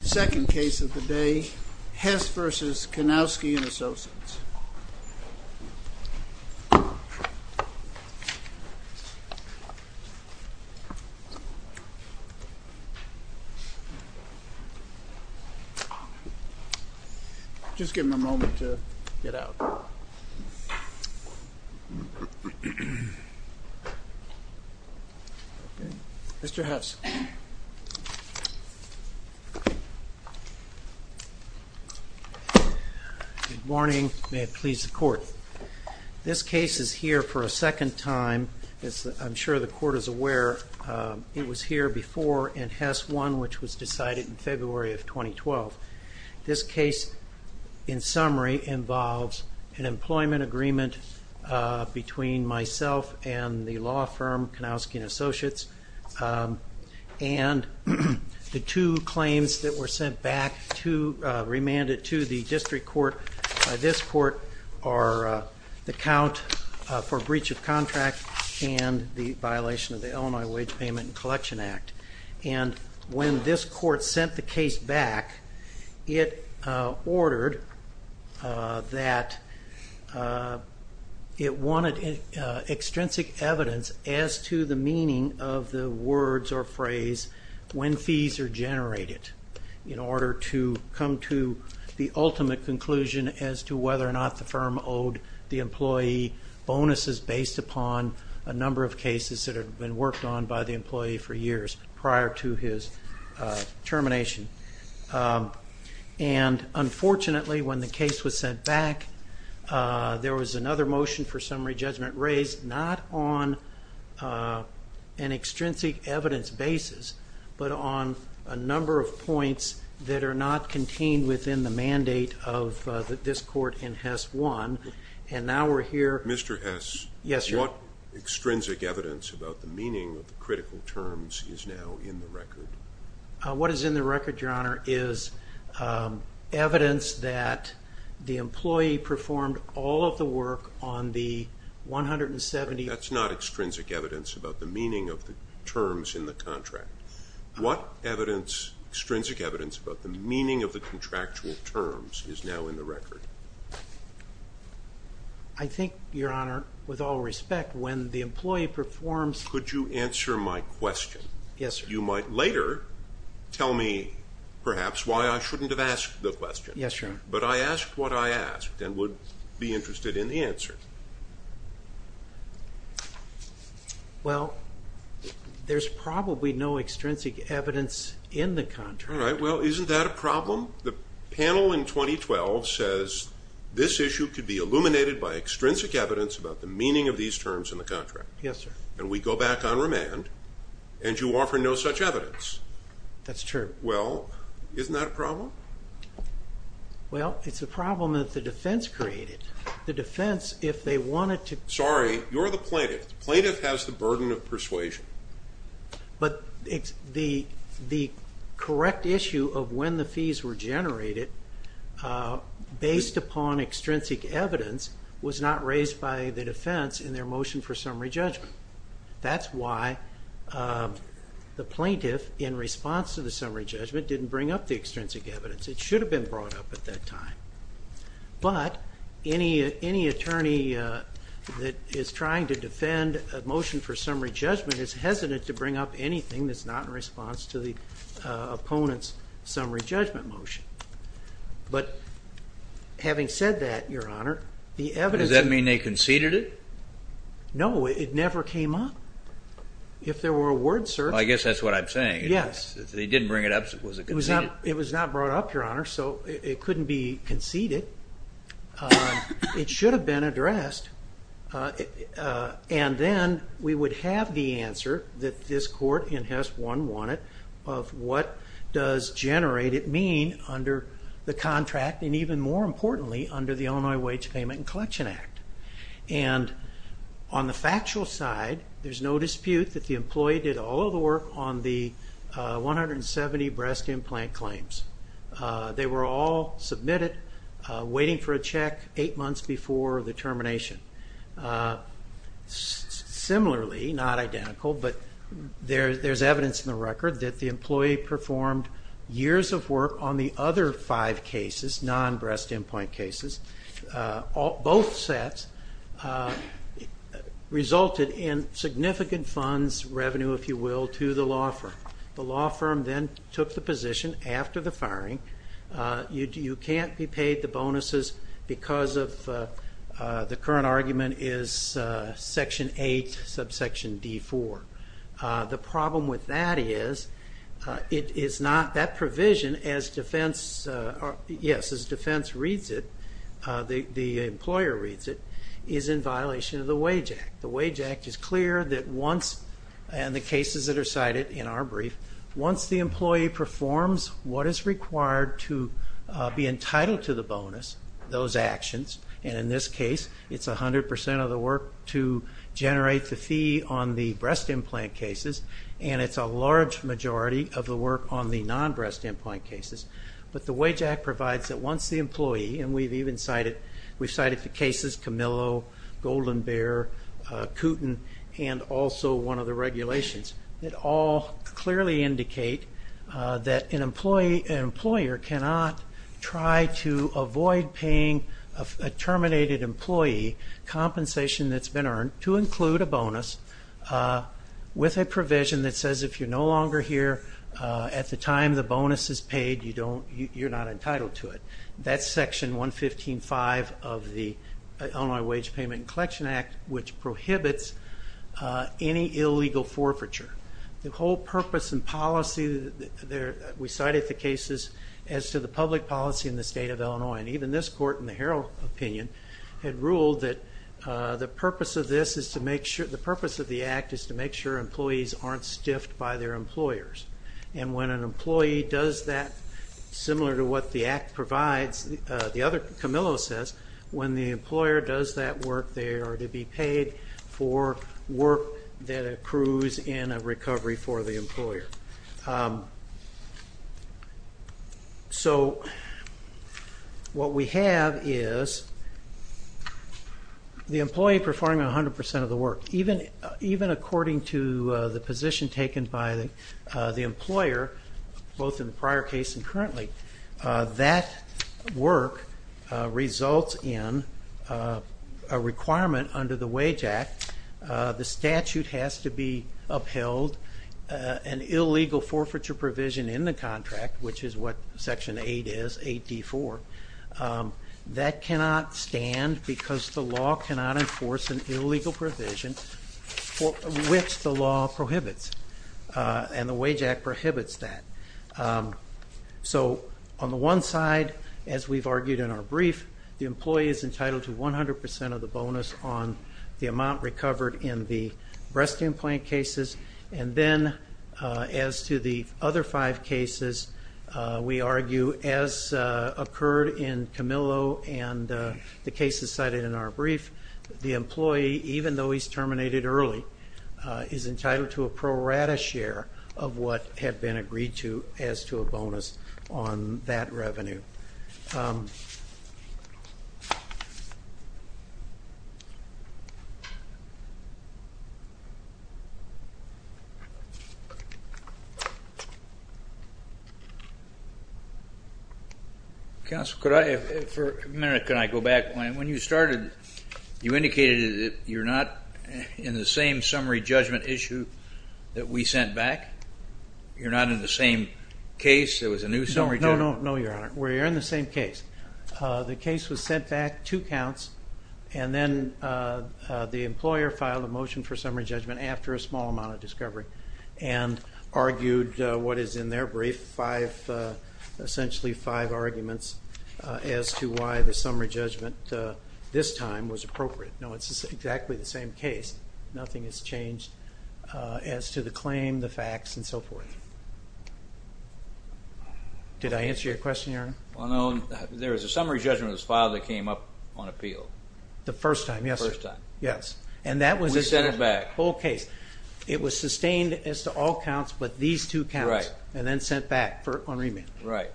Second case of the day, Hess v. Kanoski & Associates. Just give me a moment to get out. Mr. Hess. Good morning. May it please the court. This case is here for a second time. I'm sure the court is aware it was here before in Hess 1, which was decided in February of 2012. This case, in summary, involves an employment agreement between myself and the law firm Kanoski & Associates and the two claims that were sent back, remanded to the district court by this court, are the count for breach of contract and the violation of the Illinois Wage Payment and Collection Act. When this court sent the case back, it ordered that it wanted extrinsic evidence as to the meaning of the words or phrase, when fees are generated, in order to come to the ultimate conclusion as to whether or not the firm owed the employee bonuses based upon a number of cases that had been worked on by the employee for years prior to his termination. And unfortunately, when the case was sent back, there was another motion for summary judgment raised, not on an extrinsic evidence basis, but on a number of points that are not contained within the mandate of this court in Hess 1. Mr. Hess, what extrinsic evidence about the meaning of the critical terms is now in the record? What is in the record, Your Honor, is evidence that the employee performed all of the work on the 170... That's not extrinsic evidence about the meaning of the terms in the contract. What extrinsic evidence about the meaning of the contractual terms is now in the record? I think, Your Honor, with all respect, when the employee performs... Could you answer my question? Yes, sir. You might later tell me, perhaps, why I shouldn't have asked the question. Yes, Your Honor. Well, there's probably no extrinsic evidence in the contract. All right. Well, isn't that a problem? The panel in 2012 says this issue could be illuminated by extrinsic evidence about the meaning of these terms in the contract. Yes, sir. And we go back on remand, and you offer no such evidence. That's true. Well, isn't that a problem? Well, it's a problem that the defense created. The defense, if they wanted to... Sorry, you're the plaintiff. The plaintiff has the burden of persuasion. But the correct issue of when the fees were generated, based upon extrinsic evidence, was not raised by the defense in their motion for summary judgment. That's why the plaintiff, in response to the summary judgment, didn't bring up the extrinsic evidence. It should have been brought up at that time. But any attorney that is trying to defend a motion for summary judgment is hesitant to bring up anything that's not in response to the opponent's summary judgment motion. But having said that, Your Honor, the evidence... Does that mean they conceded it? No, it never came up. If there were a word search... I guess that's what I'm saying. Yes. If they didn't bring it up, was it conceded? It was not brought up, Your Honor, so it couldn't be conceded. It should have been addressed. And then we would have the answer that this court in HES 1 wanted of what does generate it mean under the contract, and even more importantly, under the Illinois Wage Payment and Collection Act. And on the factual side, there's no dispute that the employee did all of the work on the 170 breast implant claims. They were all submitted, waiting for a check eight months before the termination. Similarly, not identical, but there's evidence in the record that the employee performed years of work on the other five cases, non-breast implant cases. Both sets resulted in significant funds, revenue, if you will, to the law firm. The law firm then took the position after the firing, you can't be paid the bonuses because of the current argument is Section 8, subsection D4. The problem with that is that provision, as defense reads it, the employer reads it, is in violation of the Wage Act. The Wage Act is clear that once, and the cases that are cited in our brief, once the employee performs what is required to be entitled to the bonus, those actions, and in this case, it's 100 percent of the work to generate the fee on the breast implant cases, and it's a large majority of the work on the non-breast implant cases. But the Wage Act provides that once the employee, and we've cited the cases, Camillo, Golden Bear, Kooten, and also one of the regulations, that all clearly indicate that an employer cannot try to avoid paying a terminated employee compensation that's been earned to include a bonus with a provision that says if you're no longer here at the time the bonus is paid, you're not entitled to it. That's Section 115.5 of the Illinois Wage Payment and Collection Act, which prohibits any illegal forfeiture. The whole purpose and policy, we cited the cases, as to the public policy in the state of Illinois, and even this court in the Harrell opinion had ruled that the purpose of the act is to make sure employees aren't stiffed by their employers. And when an employee does that, similar to what the act provides, the other Camillo says, when the employer does that work, they are to be paid for work that accrues in a recovery for the employer. So what we have is the employee performing 100% of the work. Even according to the position taken by the employer, both in the prior case and currently, that work results in a requirement under the Wage Act. The statute has to be upheld. An illegal forfeiture provision in the contract, which is what Section 8 is, 8D4, that cannot stand because the law cannot enforce an illegal provision which the law prohibits, and the Wage Act prohibits that. So on the one side, as we've argued in our brief, the employee is entitled to 100% of the bonus on the amount recovered in the breast implant cases. And then as to the other five cases, we argue, as occurred in Camillo and the cases cited in our brief, the employee, even though he's terminated early, is entitled to a pro rata share of what had been agreed to as to a bonus on that revenue. Counsel, could I, for a minute, can I go back? When you started, you indicated that you're not in the same summary judgment issue that we sent back? You're not in the same case? There was a new summary judgment? No, Your Honor, we're in the same case. The case was sent back two counts, and then the employer filed a motion for summary judgment after a small amount of discovery and argued what is in their brief, essentially five arguments as to why the summary judgment this time was appropriate. No, it's exactly the same case. Nothing has changed as to the claim, the facts, and so forth. Did I answer your question, Your Honor? Well, no. There was a summary judgment that was filed that came up on appeal. The first time, yes, sir. First time. And that was the whole case. We sent it back. It was sustained as to all counts, but these two counts, and then sent back on remand. Right.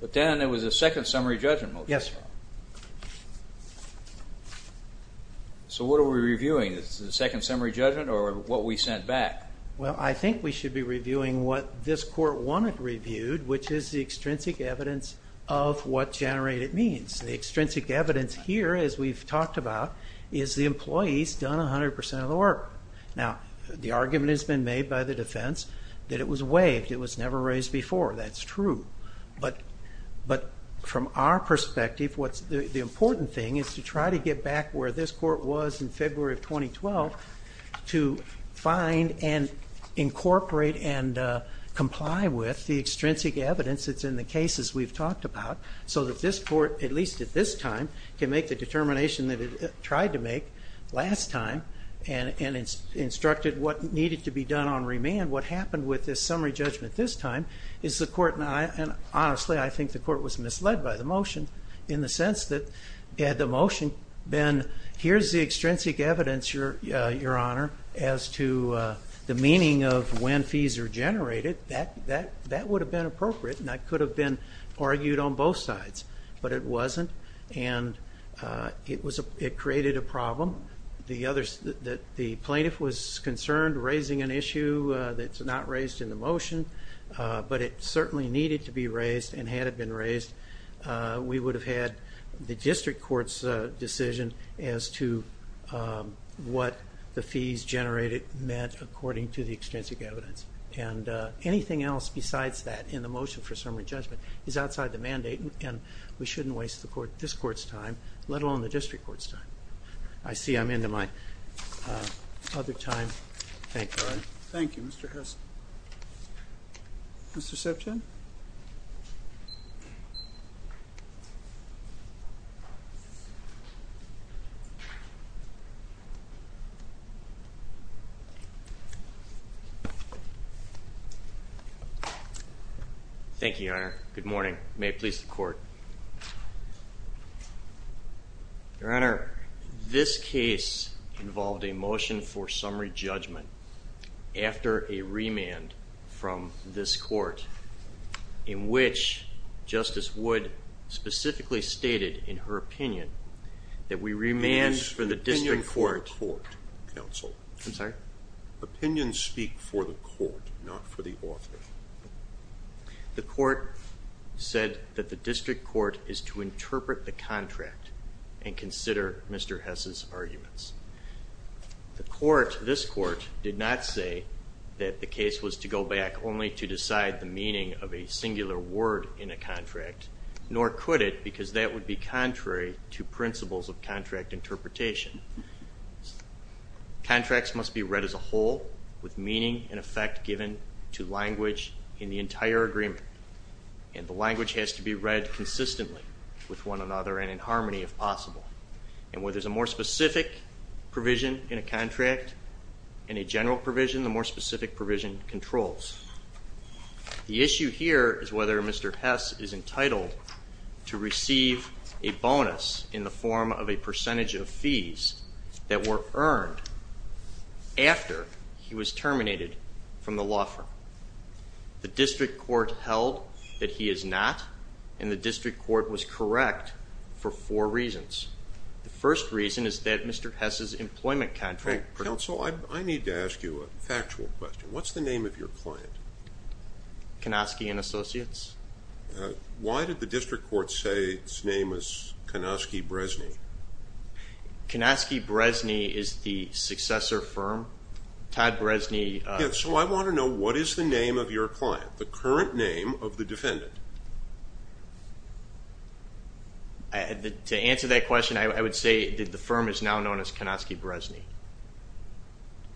But then there was a second summary judgment motion. Yes, sir. So what are we reviewing? Is it the second summary judgment or what we sent back? Well, I think we should be reviewing what this court wanted reviewed, which is the extrinsic evidence of what generated means. The extrinsic evidence here, as we've talked about, is the employee's done 100 percent of the work. Now, the argument has been made by the defense that it was waived. It was never raised before. That's true. But from our perspective, the important thing is to try to get back where this court was in February of 2012 to find and incorporate and comply with the extrinsic evidence that's in the cases we've talked about so that this court, at least at this time, can make the determination that it tried to make last time and instructed what needed to be done on remand. What happened with this summary judgment this time is the court, in the sense that had the motion been, here's the extrinsic evidence, Your Honor, as to the meaning of when fees are generated, that would have been appropriate and that could have been argued on both sides. But it wasn't, and it created a problem. The plaintiff was concerned raising an issue that's not raised in the motion, but it certainly needed to be raised, and had it been raised, we would have had the district court's decision as to what the fees generated meant according to the extrinsic evidence. And anything else besides that in the motion for summary judgment is outside the mandate, and we shouldn't waste this court's time, let alone the district court's time. I see I'm into my other time. Thank you, Your Honor. Thank you, Mr. Hurst. Mr. Septon. Thank you, Your Honor. Good morning. May it please the court. Your Honor, this case involved a motion for summary judgment after a remand from this court, in which Justice Wood specifically stated in her opinion that we remand for the district court. Opinions speak for the court, counsel. I'm sorry? Opinions speak for the court, not for the author. The court said that the district court is to interpret the contract and consider Mr. Hess's arguments. The court, this court, did not say that the case was to go back only to decide the meaning of a singular word in a contract, nor could it because that would be contrary to principles of contract interpretation. Contracts must be read as a whole with meaning and effect given to language in the entire agreement, and the language has to be read consistently with one another and in harmony if possible. And where there's a more specific provision in a contract and a general provision, the more specific provision controls. The issue here is whether Mr. Hess is entitled to receive a bonus in the form of a percentage of fees that were earned after he was terminated from the law firm. The district court held that he is not, and the district court was correct for four reasons. The first reason is that Mr. Hess's employment contract. Counsel, I need to ask you a factual question. What's the name of your client? Konosky and Associates. Why did the district court say his name was Konosky Brezny? Konosky Brezny is the successor firm. Todd Brezny. Yes, so I want to know what is the name of your client, the current name of the defendant? To answer that question, I would say that the firm is now known as Konosky Brezny.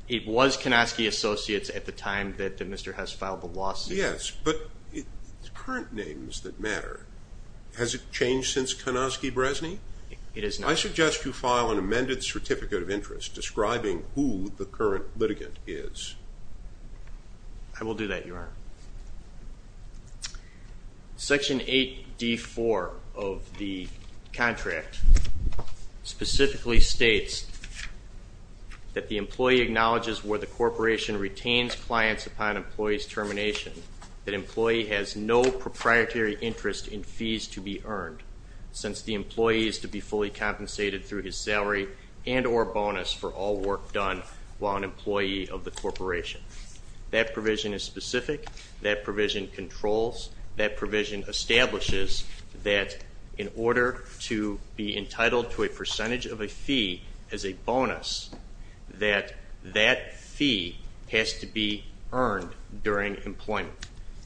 It was Konosky Associates at the time that Mr. Hess filed the lawsuit. Yes, but it's current names that matter. Has it changed since Konosky Brezny? It has not. I suggest you file an amended certificate of interest describing who the current litigant is. I will do that, Your Honor. Section 8D.4 of the contract specifically states that the employee acknowledges where the corporation retains clients upon employee's termination that employee has no proprietary interest in fees to be earned since the employee is to be fully compensated through his salary and or bonus for all work done while an employee of the corporation. That provision is specific. That provision controls. That provision establishes that in order to be entitled to a percentage of a fee as a bonus, that that fee has to be earned during employment.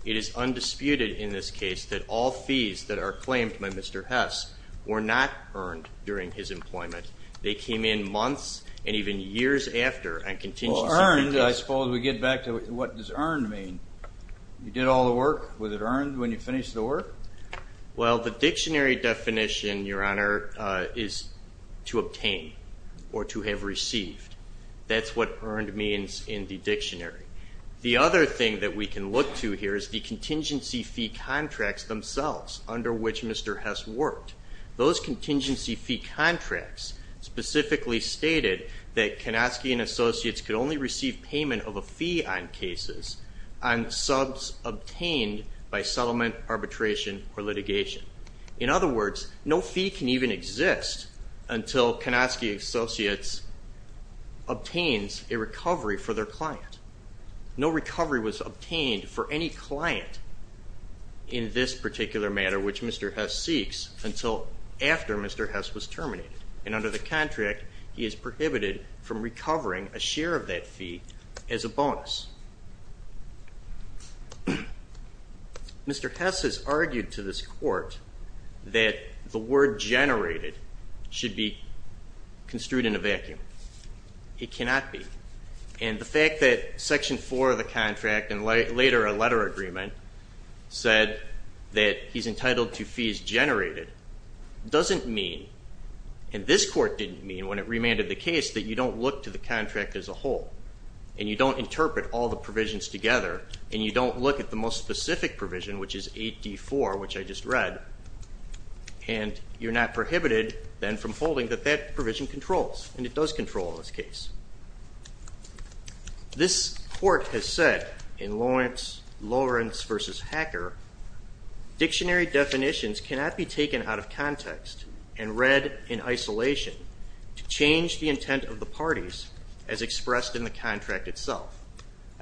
It is undisputed in this case that all fees that are claimed by Mr. Hess were not earned during his employment. They came in months and even years after. Earned? I suppose we get back to what does earned mean? You did all the work. Was it earned when you finished the work? Well, the dictionary definition, Your Honor, is to obtain or to have received. That's what earned means in the dictionary. The other thing that we can look to here is the contingency fee contracts themselves under which Mr. Hess worked. Those contingency fee contracts specifically stated that Kanofsky and Associates could only receive payment of a fee on cases on subs obtained by settlement, arbitration, or litigation. In other words, no fee can even exist until Kanofsky and Associates obtains a recovery for their client. No recovery was obtained for any client in this particular matter, which Mr. Hess seeks, until after Mr. Hess was terminated. And under the contract, he is prohibited from recovering a share of that fee as a bonus. Mr. Hess has argued to this court that the word generated should be construed in a vacuum. It cannot be. And the fact that Section 4 of the contract and later a letter agreement said that he's entitled to fees generated doesn't mean, and this court didn't mean when it remanded the case, that you don't look to the contract as a whole and you don't interpret all the provisions together and you don't look at the most specific provision, which is 8D4, which I just read, and you're not prohibited then from holding that that provision controls, and it does control in this case. This court has said in Lawrence v. Hacker, dictionary definitions cannot be taken out of context and read in isolation to change the intent of the parties as expressed in the contract itself.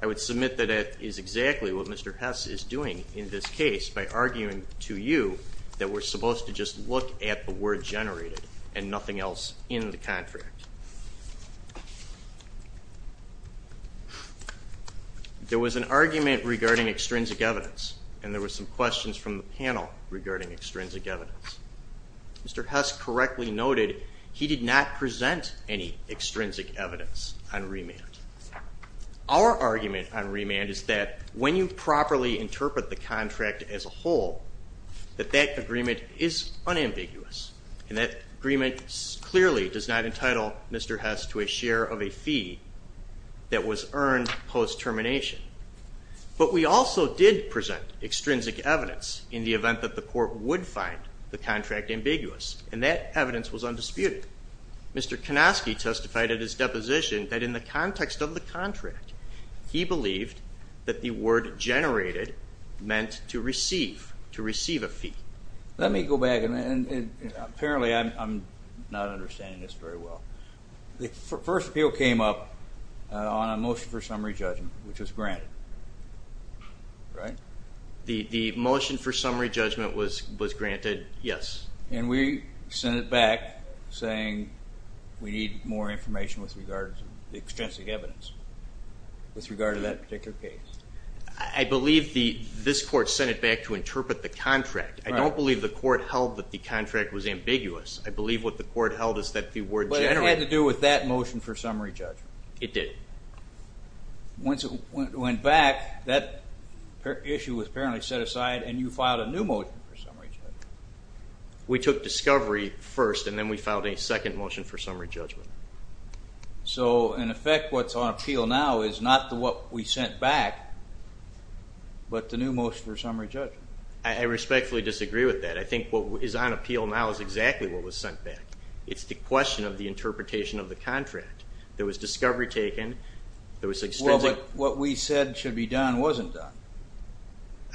I would submit that that is exactly what Mr. Hess is doing in this case by arguing to you that we're supposed to just look at the word generated and nothing else in the contract. There was an argument regarding extrinsic evidence, and there were some questions from the panel regarding extrinsic evidence. Mr. Hess correctly noted he did not present any extrinsic evidence on remand. Our argument on remand is that when you properly interpret the contract as a whole, that that agreement is unambiguous, and that agreement clearly does not entitle Mr. Hess to a share of a fee that was earned post-termination. But we also did present extrinsic evidence in the event that the court would find the contract ambiguous, and that evidence was undisputed. Mr. Konoski testified at his deposition that in the context of the contract, he believed that the word generated meant to receive a fee. Let me go back, and apparently I'm not understanding this very well. The first appeal came up on a motion for summary judgment, which was granted, right? The motion for summary judgment was granted, yes. And we sent it back saying we need more information with regard to extrinsic evidence with regard to that particular case. I believe this court sent it back to interpret the contract. I don't believe the court held that the contract was ambiguous. I believe what the court held is that the word generated. But it had to do with that motion for summary judgment. It did. Once it went back, that issue was apparently set aside, and you filed a new motion for summary judgment. We took discovery first, and then we filed a second motion for summary judgment. So, in effect, what's on appeal now is not what we sent back, but the new motion for summary judgment. I respectfully disagree with that. I think what is on appeal now is exactly what was sent back. It's the question of the interpretation of the contract. There was discovery taken. Well, but what we said should be done wasn't done.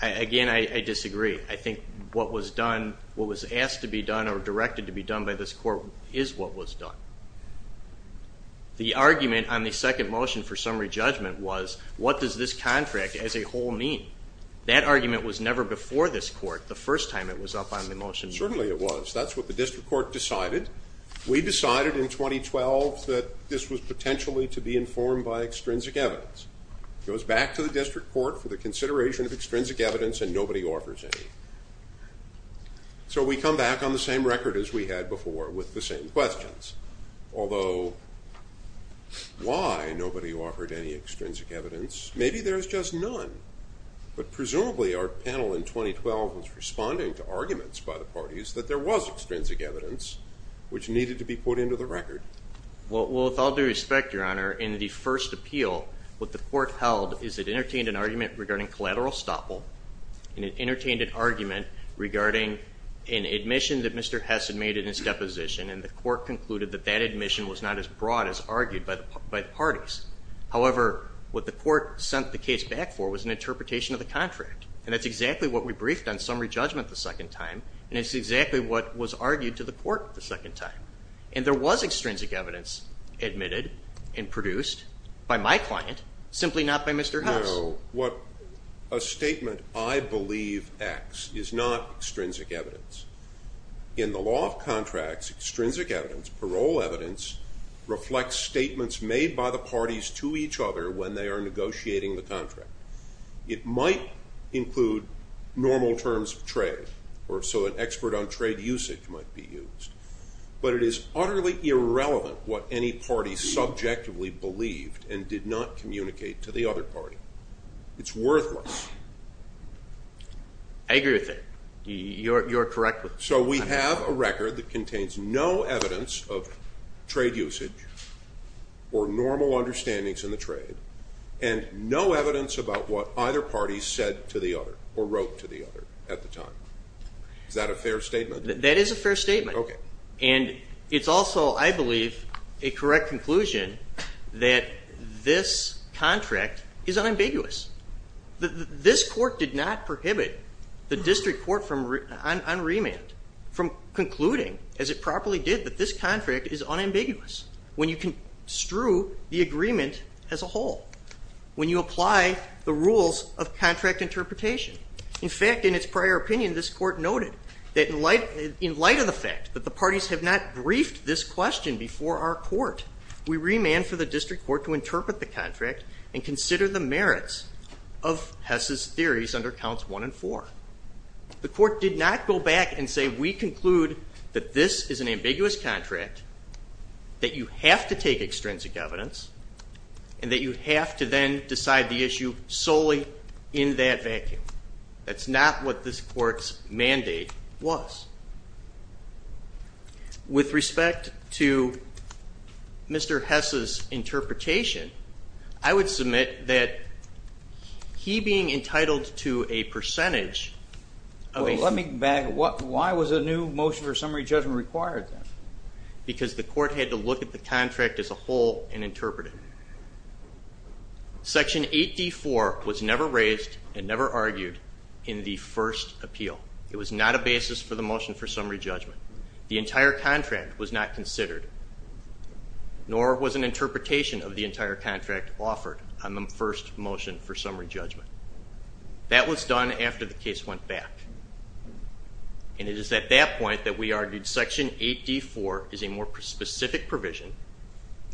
Again, I disagree. I think what was done, what was asked to be done or directed to be done by this court is what was done. The argument on the second motion for summary judgment was, what does this contract as a whole mean? That argument was never before this court the first time it was up on the motion. Certainly it was. That's what the district court decided. We decided in 2012 that this was potentially to be informed by extrinsic evidence. It goes back to the district court for the consideration of extrinsic evidence, and nobody offers any. So we come back on the same record as we had before with the same questions. Although, why nobody offered any extrinsic evidence? Maybe there's just none. But presumably our panel in 2012 was responding to arguments by the parties that there was extrinsic evidence which needed to be put into the record. Well, with all due respect, Your Honor, in the first appeal what the court held is it entertained an argument regarding collateral estoppel and it entertained an argument regarding an admission that Mr. Hess had made in his deposition, and the court concluded that that admission was not as broad as argued by the parties. However, what the court sent the case back for was an interpretation of the contract, and that's exactly what we briefed on summary judgment the second time, and it's exactly what was argued to the court the second time. And there was extrinsic evidence admitted and produced by my client, simply not by Mr. Hess. No. What a statement, I believe, acts is not extrinsic evidence. In the law of contracts, extrinsic evidence, parole evidence, reflects statements made by the parties to each other when they are negotiating the contract. It might include normal terms of trade, or so an expert on trade usage might be used. But it is utterly irrelevant what any party subjectively believed and did not communicate to the other party. It's worthless. I agree with it. You're correct. So we have a record that contains no evidence of trade usage or normal understandings in the trade, and no evidence about what either party said to the other or wrote to the other at the time. Is that a fair statement? That is a fair statement. And it's also, I believe, a correct conclusion that this contract is unambiguous. This court did not prohibit the district court on remand from concluding, as it properly did, that this contract is unambiguous when you construe the agreement as a whole, when you apply the rules of contract interpretation. In fact, in its prior opinion, this court noted that in light of the fact that the parties have not briefed this question before our court, we remand for the district court to interpret the contract and consider the merits of Hess's theories under counts one and four. The court did not go back and say, we conclude that this is an ambiguous contract, that you have to take extrinsic evidence, and that you have to then decide the issue solely in that vacuum. That's not what this court's mandate was. With respect to Mr. Hess's interpretation, I would submit that he being entitled to a percentage of a summary judgment Well, let me back up. Why was a new motion for summary judgment required then? Because the court had to look at the contract as a whole and interpret it. Section 8D.4 was never raised and never argued in the first appeal. It was not a basis for the motion for summary judgment. The entire contract was not considered, nor was an interpretation of the entire contract offered on the first motion for summary judgment. That was done after the case went back, and it is at that point that we argued Section 8D.4 is a more specific provision.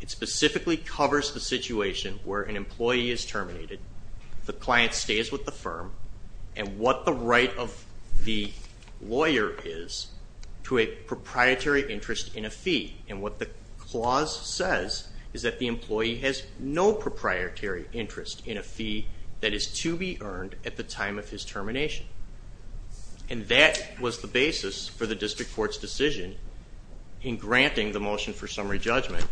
It specifically covers the situation where an employee is terminated, the client stays with the firm, and what the right of the lawyer is to a proprietary interest in a fee, and what the clause says is that the employee has no proprietary interest in a fee that is to be earned at the time of his termination. And that was the basis for the district court's decision in granting the motion for summary judgment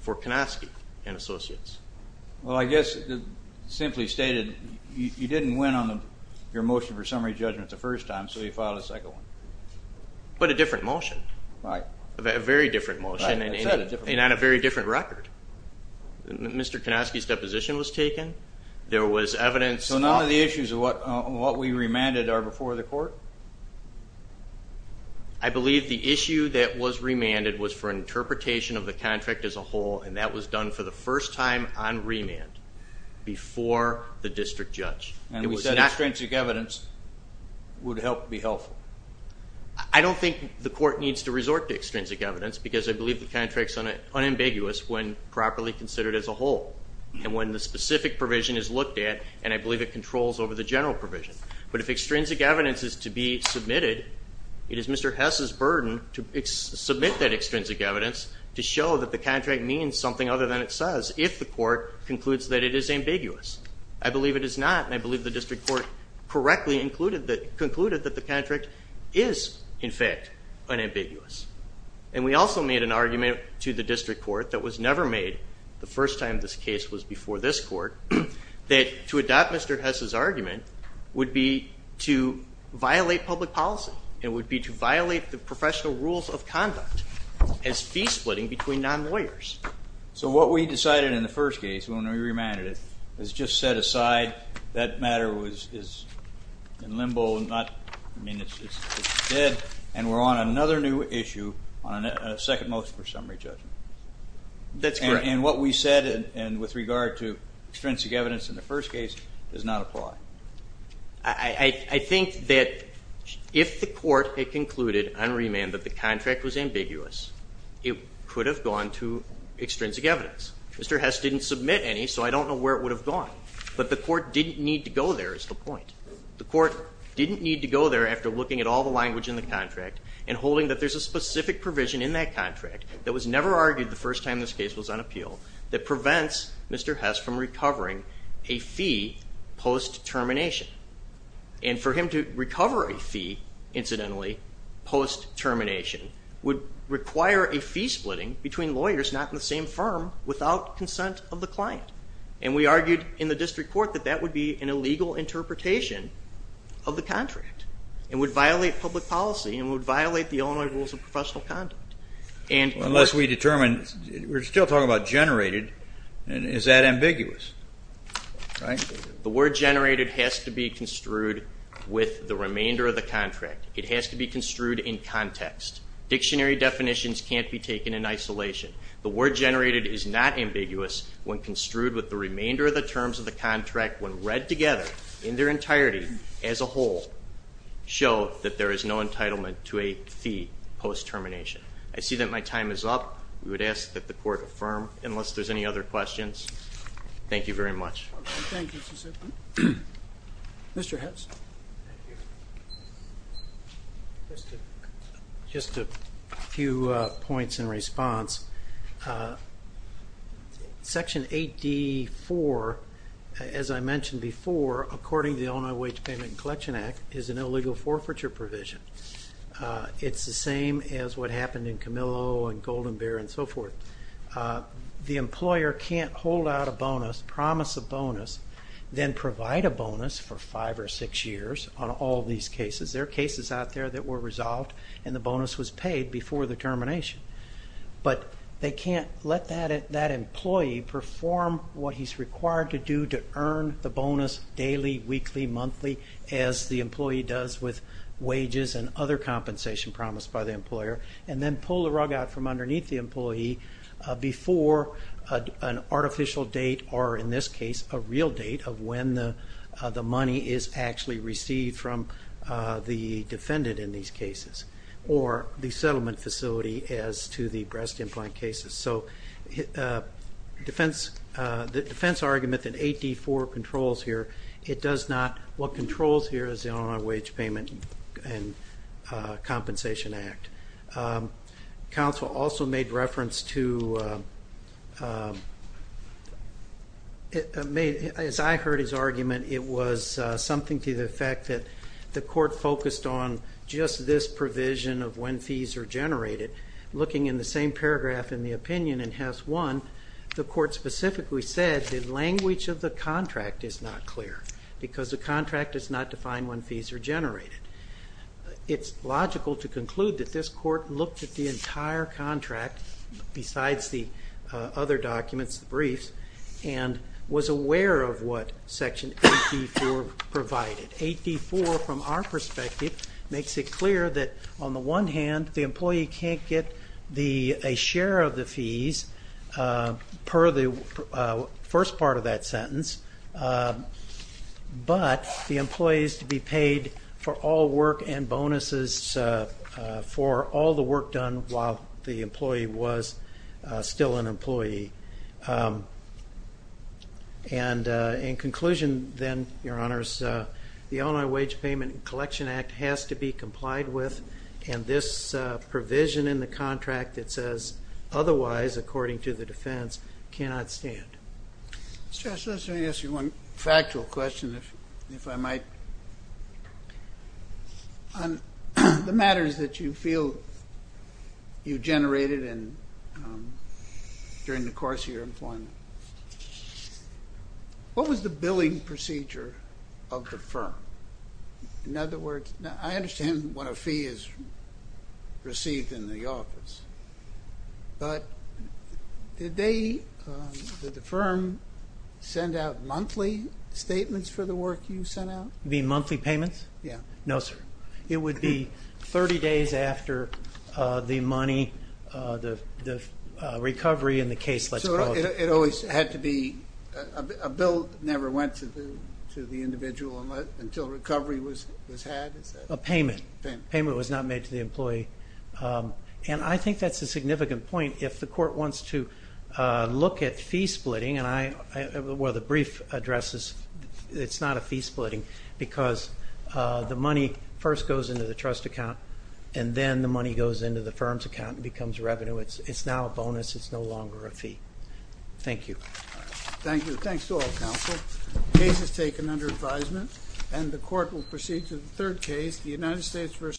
for Kanofsky and Associates. Well, I guess simply stated, you didn't win on your motion for summary judgment the first time, so you filed a second one. But a different motion. Right. A very different motion and on a very different record. Mr. Kanofsky's deposition was taken. There was evidence. So none of the issues of what we remanded are before the court? I believe the issue that was remanded was for interpretation of the contract as a whole, and that was done for the first time on remand before the district judge. And we said extrinsic evidence would help be helpful. I don't think the court needs to resort to extrinsic evidence because I believe the contract is unambiguous when properly considered as a whole. And when the specific provision is looked at, and I believe it controls over the general provision. But if extrinsic evidence is to be submitted, it is Mr. Hess's burden to submit that extrinsic evidence to show that the contract means something other than it says if the court concludes that it is ambiguous. I believe it is not, and I believe the district court correctly concluded that the contract is, in fact, unambiguous. And we also made an argument to the district court that was never made the first time this case was before this court, that to adopt Mr. Hess's argument would be to violate public policy and would be to violate the professional rules of conduct as fee splitting between non-lawyers. So what we decided in the first case, when we remanded it, is just set aside. That matter is in limbo. I mean, it's dead, and we're on another new issue on a second motion for summary judgment. That's correct. And what we said with regard to extrinsic evidence in the first case does not apply. I think that if the court had concluded on remand that the contract was ambiguous, it could have gone to extrinsic evidence. Mr. Hess didn't submit any, so I don't know where it would have gone. But the court didn't need to go there is the point. The court didn't need to go there after looking at all the language in the contract and holding that there's a specific provision in that contract that was never argued the first time this case was on appeal that prevents Mr. Hess from recovering a fee post-termination. And for him to recover a fee, incidentally, post-termination, would require a fee splitting between lawyers not in the same firm without consent of the client. And we argued in the district court that that would be an illegal interpretation of the contract and would violate public policy and would violate the Illinois rules of professional conduct. Unless we determine, we're still talking about generated, is that ambiguous, right? The word generated has to be construed with the remainder of the contract. It has to be construed in context. Dictionary definitions can't be taken in isolation. The word generated is not ambiguous when construed with the remainder of the terms of the contract when read together in their entirety as a whole show that there is no entitlement to a fee post-termination. I see that my time is up. We would ask that the court affirm. Unless there's any other questions, thank you very much. Okay, thank you, Mr. Simpson. Mr. Hess. Thank you. Just a few points in response. Section 8D-4, as I mentioned before, according to the Illinois Wage Payment and Collection Act, is an illegal forfeiture provision. It's the same as what happened in Camillo and Golden Bear and so forth. The employer can't hold out a bonus, promise a bonus, then provide a bonus for five or six years on all these cases. There are cases out there that were resolved and the bonus was paid before the termination. But they can't let that employee perform what he's required to do to earn the bonus daily, weekly, monthly, as the employee does with wages and other compensation promised by the employer, and then pull the rug out from underneath the employee before an artificial date or, in this case, a real date of when the money is actually received from the defendant in these cases or the settlement facility as to the breast implant cases. So the defense argument that 8D-4 controls here, it does not. What controls here is the Illinois Wage Payment and Compensation Act. Counsel also made reference to, as I heard his argument, it was something to the effect that the court focused on just this provision of when fees are generated. Looking in the same paragraph in the opinion in House 1, the court specifically said the language of the contract is not clear because the contract does not define when fees are generated. It's logical to conclude that this court looked at the entire contract besides the other documents, the briefs, and was aware of what Section 8D-4 provided. 8D-4, from our perspective, makes it clear that, on the one hand, the employee can't get a share of the fees per the first part of that sentence, but the employee is to be paid for all work and bonuses for all the work done while the employee was still an employee. In conclusion, then, Your Honors, the Illinois Wage Payment and Compensation Act has to be complied with, and this provision in the contract that says, otherwise, according to the defense, cannot stand. Mr. Estes, let me ask you one factual question, if I might. On the matters that you feel you generated during the course of your employment, what was the billing procedure of the firm? In other words, I understand what a fee is received in the office, but did the firm send out monthly statements for the work you sent out? You mean monthly payments? Yes. No, sir. It would be 30 days after the money, the recovery, and the case was closed. It always had to be a bill that never went to the individual until recovery was had? A payment. A payment. A payment was not made to the employee. And I think that's a significant point. If the court wants to look at fee splitting, and the brief addresses it's not a fee splitting because the money first goes into the trust account, and then the money goes into the firm's account and becomes revenue. It's now a bonus. It's no longer a fee. Thank you. Thank you. Thanks to all counsel. The case is taken under advisement, and the court will proceed to the third case, the United States v.